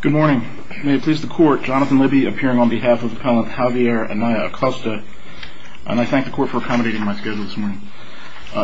Good morning. May it please the court, Jonathan Libby appearing on behalf of the appellant Javier Anaya-Acosta. And I thank the court for accommodating my schedule this morning.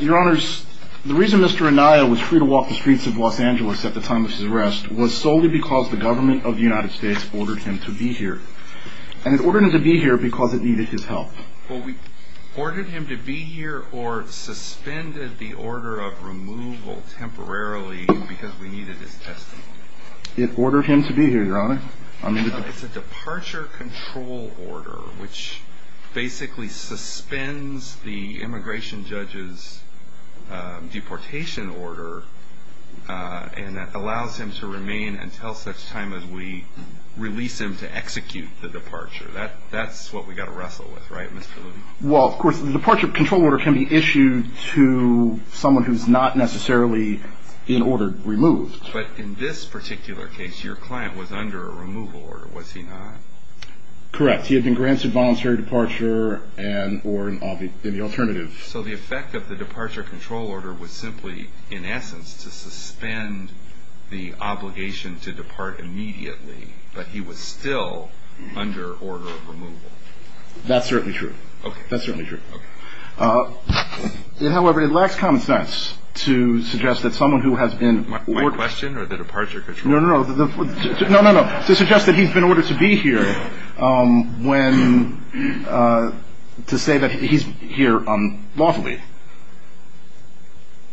Your Honors, the reason Mr. Anaya was free to walk the streets of Los Angeles at the time of his arrest was solely because the government of the United States ordered him to be here. And it ordered him to be here because it needed his help. Well, we ordered him to be here or suspended the order of removal temporarily because we needed his testimony. It ordered him to be here, Your Honor. It's a departure control order which basically suspends the immigration judge's deportation order and that allows him to remain until such time as we release him to execute the departure. That's what we've got to wrestle with, right, Mr. Libby? Well, of course, the departure control order can be issued to someone who's not necessarily in order, removed. But in this particular case, your client was under a removal order, was he not? Correct. He had been granted voluntary departure or an alternative. So the effect of the departure control order was simply, in essence, to suspend the obligation to depart immediately, but he was still under order of removal. That's certainly true. Okay. That's certainly true. However, it lacks common sense to suggest that someone who has been ordered. My question or the departure control order? No, no, no. No, no, no. To suggest that he's been ordered to be here when to say that he's here lawfully.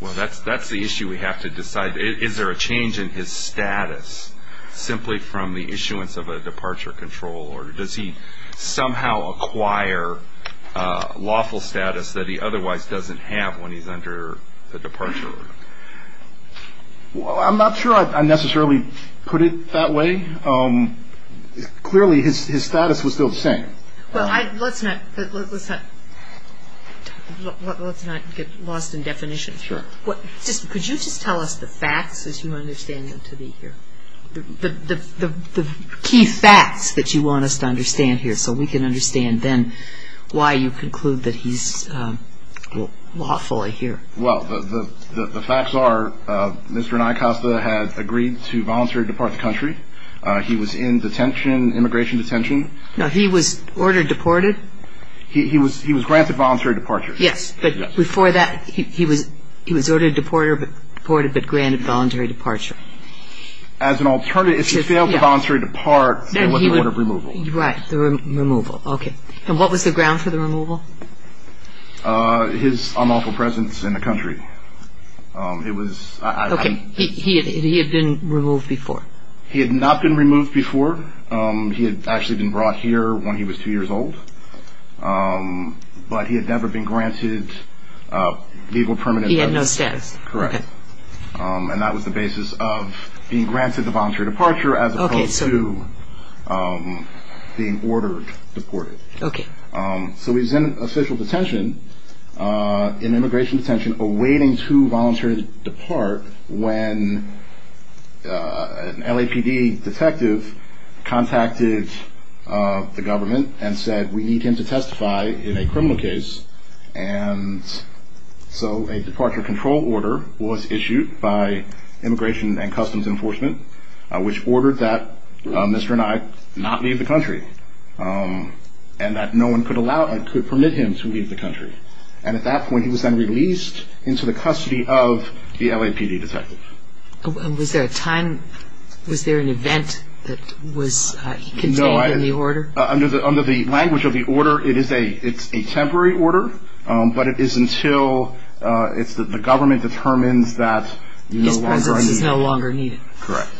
Well, that's the issue we have to decide. Is there a change in his status simply from the issuance of a departure control order? Does he somehow acquire lawful status that he otherwise doesn't have when he's under the departure order? Well, I'm not sure I necessarily put it that way. Clearly, his status was still the same. Well, let's not get lost in definition. Sure. Could you just tell us the facts as you understand him to be here? The key facts that you want us to understand here, so we can understand then why you conclude that he's lawfully here. Well, the facts are Mr. Nycosta has agreed to voluntarily depart the country. He was in detention, immigration detention. No, he was ordered deported. He was granted voluntary departure. Yes, but before that, he was ordered deported but granted voluntary departure. As an alternative, if he failed to voluntarily depart, then he would have removal. Right, the removal. Okay. And what was the ground for the removal? His unlawful presence in the country. It was... Okay. He had been removed before. He had not been removed before. He had actually been brought here when he was two years old, but he had never been granted legal permanent status. He had no status. Correct. And that was the basis of being granted the voluntary departure as opposed to being ordered deported. Okay. So he was in official detention, in immigration detention, awaiting to voluntarily depart when an LAPD detective contacted the government and said we need him to testify in a criminal case. And so a departure control order was issued by Immigration and Customs Enforcement, which ordered that Mr. and I not leave the country and that no one could permit him to leave the country. And at that point, he was then released into the custody of the LAPD detective. Was there a time, was there an event that was contained in the order? Under the language of the order, it is a temporary order, but it is until the government determines that you no longer are needed. His presence is no longer needed. Correct.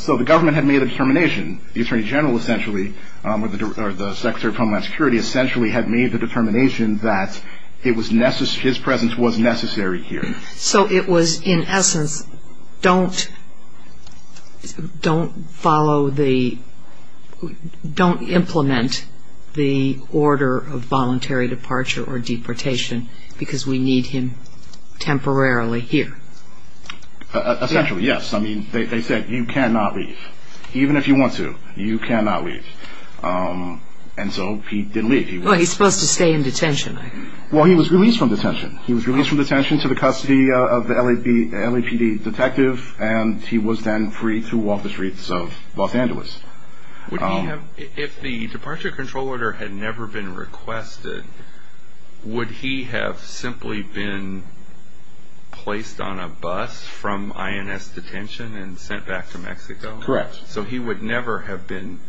So the government had made a determination, the Attorney General essentially or the Secretary of Homeland Security essentially had made the determination that his presence was necessary here. So it was in essence don't follow the, don't implement the order of voluntary departure or deportation because we need him temporarily here. Essentially, yes. I mean, they said you cannot leave. Even if you want to, you cannot leave. And so he didn't leave. Well, he's supposed to stay in detention. Well, he was released from detention. He was released from detention to the custody of the LAPD detective, and he was then free to walk the streets of Los Angeles. If the departure control order had never been requested, would he have simply been placed on a bus from INS detention and sent back to Mexico? Correct. So he would never have been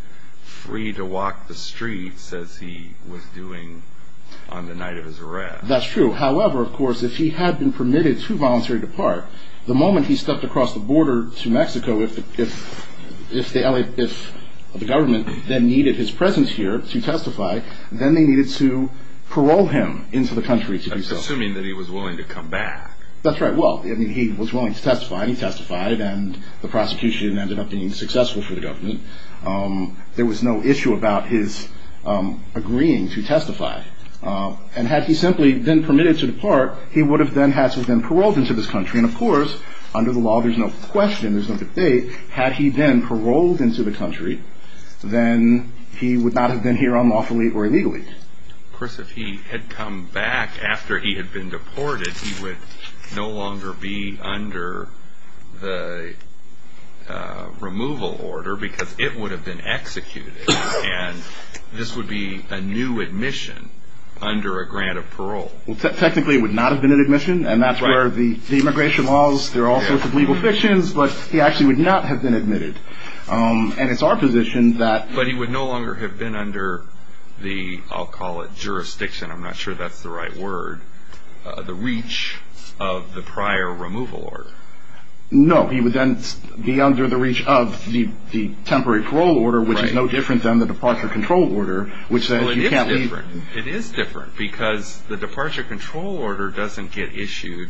free to walk the streets as he was doing on the night of his arrest. That's true. However, of course, if he had been permitted to voluntary depart, the moment he stepped across the border to Mexico, if the government then needed his presence here to testify, then they needed to parole him into the country to do so. Assuming that he was willing to come back. That's right. Well, I mean, he was willing to testify, and he testified, and the prosecution ended up being successful for the government. There was no issue about his agreeing to testify. And had he simply been permitted to depart, he would have then had to have been paroled into this country. And, of course, under the law, there's no question, there's no debate. Had he been paroled into the country, then he would not have been here unlawfully or illegally. Of course, if he had come back after he had been deported, he would no longer be under the removal order because it would have been executed. And this would be a new admission under a grant of parole. Well, technically, it would not have been an admission, and that's where the immigration laws, they're all sorts of legal fictions, but he actually would not have been admitted. And it's our position that... But he would no longer have been under the, I'll call it jurisdiction, I'm not sure that's the right word, the reach of the prior removal order. No, he would then be under the reach of the temporary parole order, which is no different than the departure control order, which then you can't leave. Well, it is different. It is different because the departure control order doesn't get issued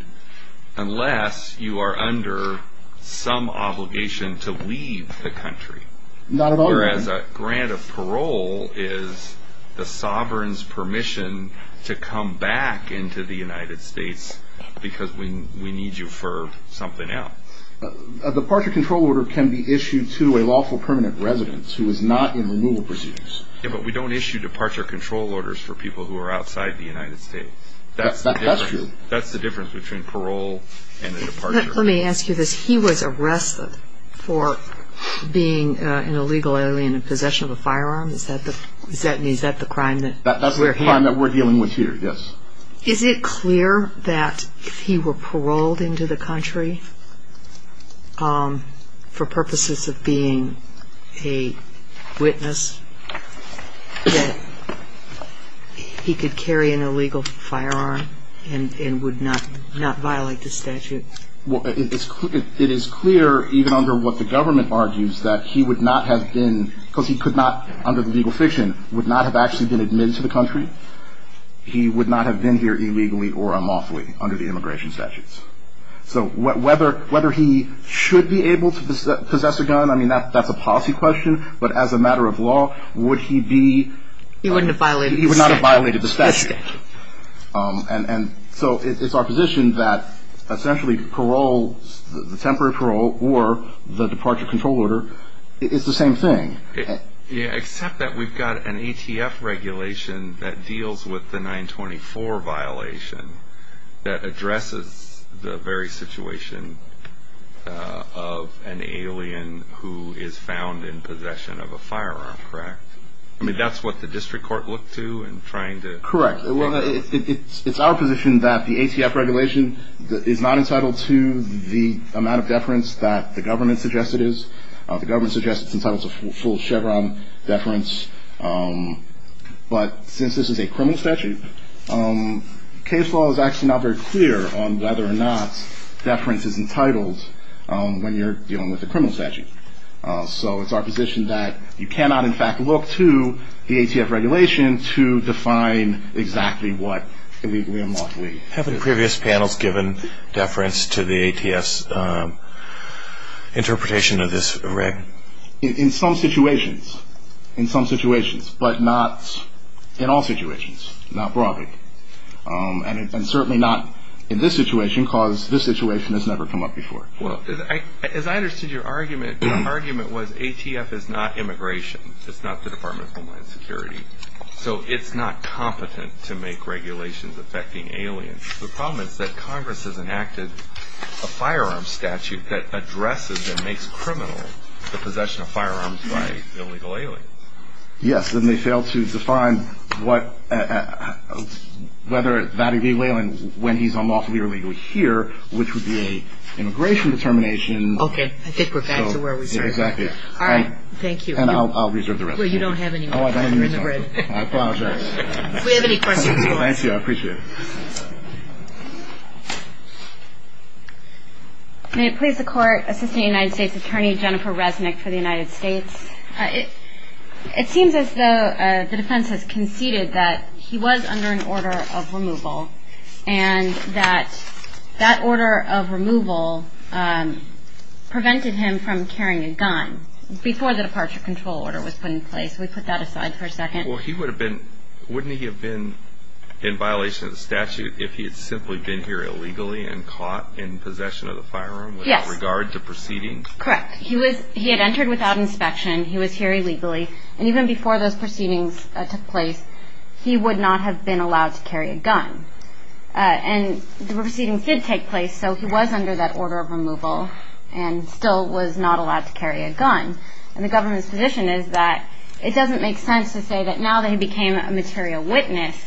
unless you are under some obligation to leave the country. Not at all. Whereas a grant of parole is the sovereign's permission to come back into the United States because we need you for something else. A departure control order can be issued to a lawful permanent residence who is not in removal proceedings. Yeah, but we don't issue departure control orders for people who are outside the United States. That's the difference. That's true. That's the difference between parole and a departure. Let me ask you this. He was arrested for being an illegal alien in possession of a firearm. Is that the crime that... That's the crime that we're dealing with here, yes. Is it clear that if he were paroled into the country for purposes of being a witness, that he could carry an illegal firearm and would not violate the statute? It is clear, even under what the government argues, that he would not have been, because he could not, under the legal fiction, would not have actually been admitted to the country. He would not have been here illegally or unlawfully under the immigration statutes. So whether he should be able to possess a gun, I mean, that's a policy question, but as a matter of law, would he be... He wouldn't have violated the statute. He would not have violated the statute. And so it's our position that essentially parole, the temporary parole, or the departure control order is the same thing. Except that we've got an ATF regulation that deals with the 924 violation that addresses the very situation of an alien who is found in possession of a firearm, correct? I mean, that's what the district court looked to in trying to... Correct. It's our position that the ATF regulation is not entitled to the amount of deference that the government suggests it is. The government suggests it's entitled to full Chevron deference, but since this is a criminal statute, case law is actually not very clear on whether or not deference is entitled when you're dealing with a criminal statute. So it's our position that you cannot, in fact, look to the ATF regulation to define exactly what illegally or unlawfully... Have the previous panels given deference to the ATF's interpretation of this, Rick? In some situations. In some situations, but not in all situations, not broadly. And certainly not in this situation, because this situation has never come up before. Well, as I understood your argument, your argument was ATF is not immigration, it's not the Department of Homeland Security. So it's not competent to make regulations affecting aliens. The problem is that Congress has enacted a firearm statute that addresses and makes criminal the possession of firearms by illegal aliens. Yes, and they failed to define whether that illegal alien, when he's unlawfully or illegally here, which would be an immigration determination. Okay, I think we're back to where we started. Exactly. All right. Thank you. And I'll reserve the rest. Well, you don't have any more time on the grid. I apologize. If we have any questions, call us. Thank you, I appreciate it. May it please the Court, Assistant United States Attorney Jennifer Resnick for the United States. It seems as though the defense has conceded that he was under an order of removal and that that order of removal prevented him from carrying a gun before the departure control order was put in place. We put that aside for a second. Well, wouldn't he have been in violation of the statute if he had simply been here illegally and caught in possession of the firearm? Yes. With regard to proceedings? Correct. He had entered without inspection. He was here illegally. And even before those proceedings took place, he would not have been allowed to carry a gun. And the proceedings did take place, so he was under that order of removal and still was not allowed to carry a gun. And the government's position is that it doesn't make sense to say that now that he became a material witness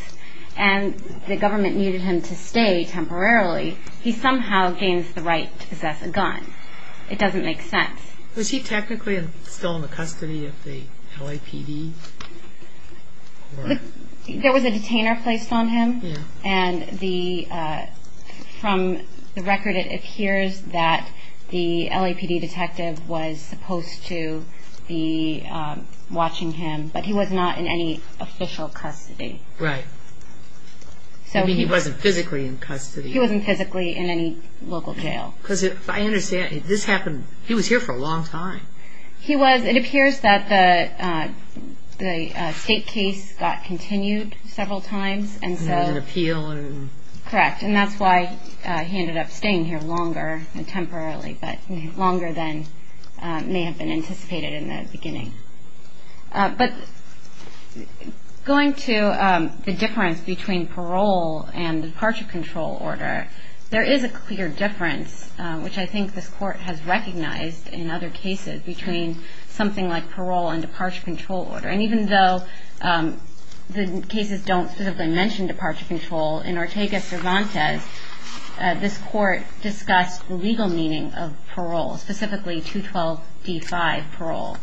and the government needed him to stay temporarily, he somehow gains the right to possess a gun. It doesn't make sense. Was he technically still in the custody of the LAPD? There was a detainer placed on him. And from the record it appears that the LAPD detective was supposed to be watching him, but he was not in any official custody. Right. You mean he wasn't physically in custody. He wasn't physically in any local jail. Because I understand, this happened, he was here for a long time. He was. It appears that the state case got continued several times, Correct. And that's why he ended up staying here longer, temporarily, but longer than may have been anticipated in the beginning. But going to the difference between parole and departure control order, there is a clear difference, which I think this court has recognized in other cases, between something like parole and departure control order. And even though the cases don't specifically mention departure control, in Ortega-Cervantes this court discussed legal meaning of parole, specifically 212D5 parole,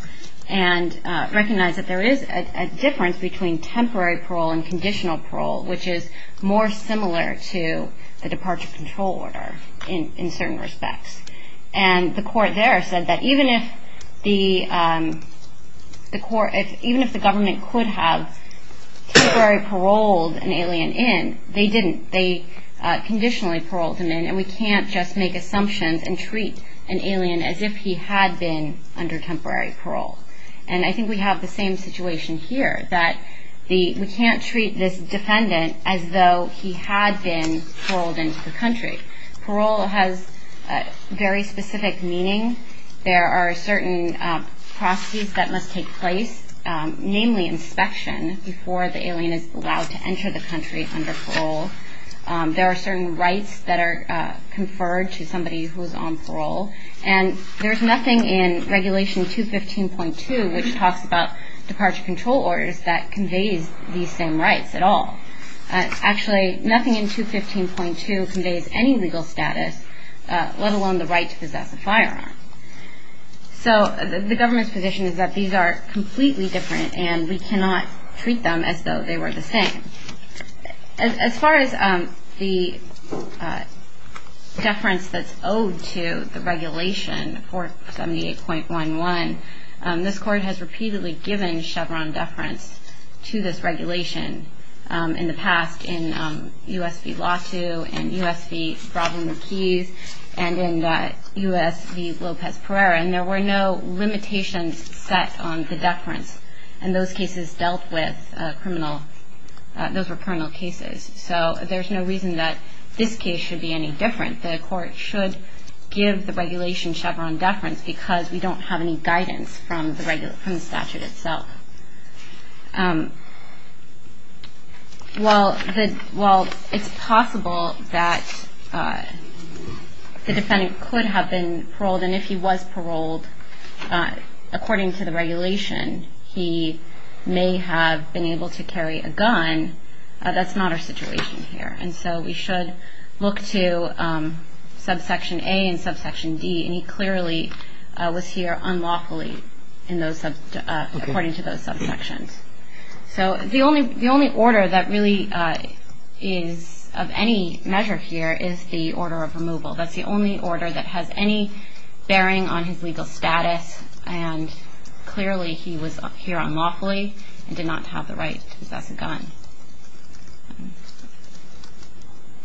and recognized that there is a difference between temporary parole and conditional parole, which is more similar to the departure control order in certain respects. And the court there said that even if the government could have temporary paroled an alien in, they didn't. They conditionally paroled him in, and we can't just make assumptions and treat an alien as if he had been under temporary parole. And I think we have the same situation here, that we can't treat this defendant as though he had been paroled into the country. Parole has very specific meaning. There are certain processes that must take place, namely inspection before the alien is allowed to enter the country under parole. There are certain rights that are conferred to somebody who is on parole. And there's nothing in Regulation 215.2, which talks about departure control orders, that conveys these same rights at all. Actually, nothing in 215.2 conveys any legal status, let alone the right to possess a firearm. So the government's position is that these are completely different, and we cannot treat them as though they were the same. As far as the deference that's owed to the regulation, 478.11, this court has repeatedly given Chevron deference to this regulation in the past in U.S. v. Latu and U.S. v. Bradley McKees and in U.S. v. Lopez-Perera. And there were no limitations set on the deference, and those cases dealt with criminal cases. So there's no reason that this case should be any different. The court should give the regulation Chevron deference because we don't have any guidance from the statute itself. Well, it's possible that the defendant could have been paroled, and if he was paroled according to the regulation, he may have been able to carry a gun. That's not our situation here. And so we should look to Subsection A and Subsection D, and he clearly was here unlawfully according to those subsections. So the only order that really is of any measure here is the order of removal. That's the only order that has any bearing on his legal status, and clearly he was here unlawfully and did not have the right to possess a gun.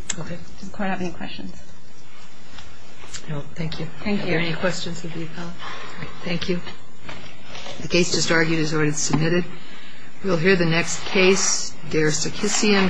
Does the court have any questions? No. Thank you. Thank you. Are there any questions of the appellant? No. Thank you. The case just argued is already submitted. We'll hear the next case, Der Sekissian v. Holder.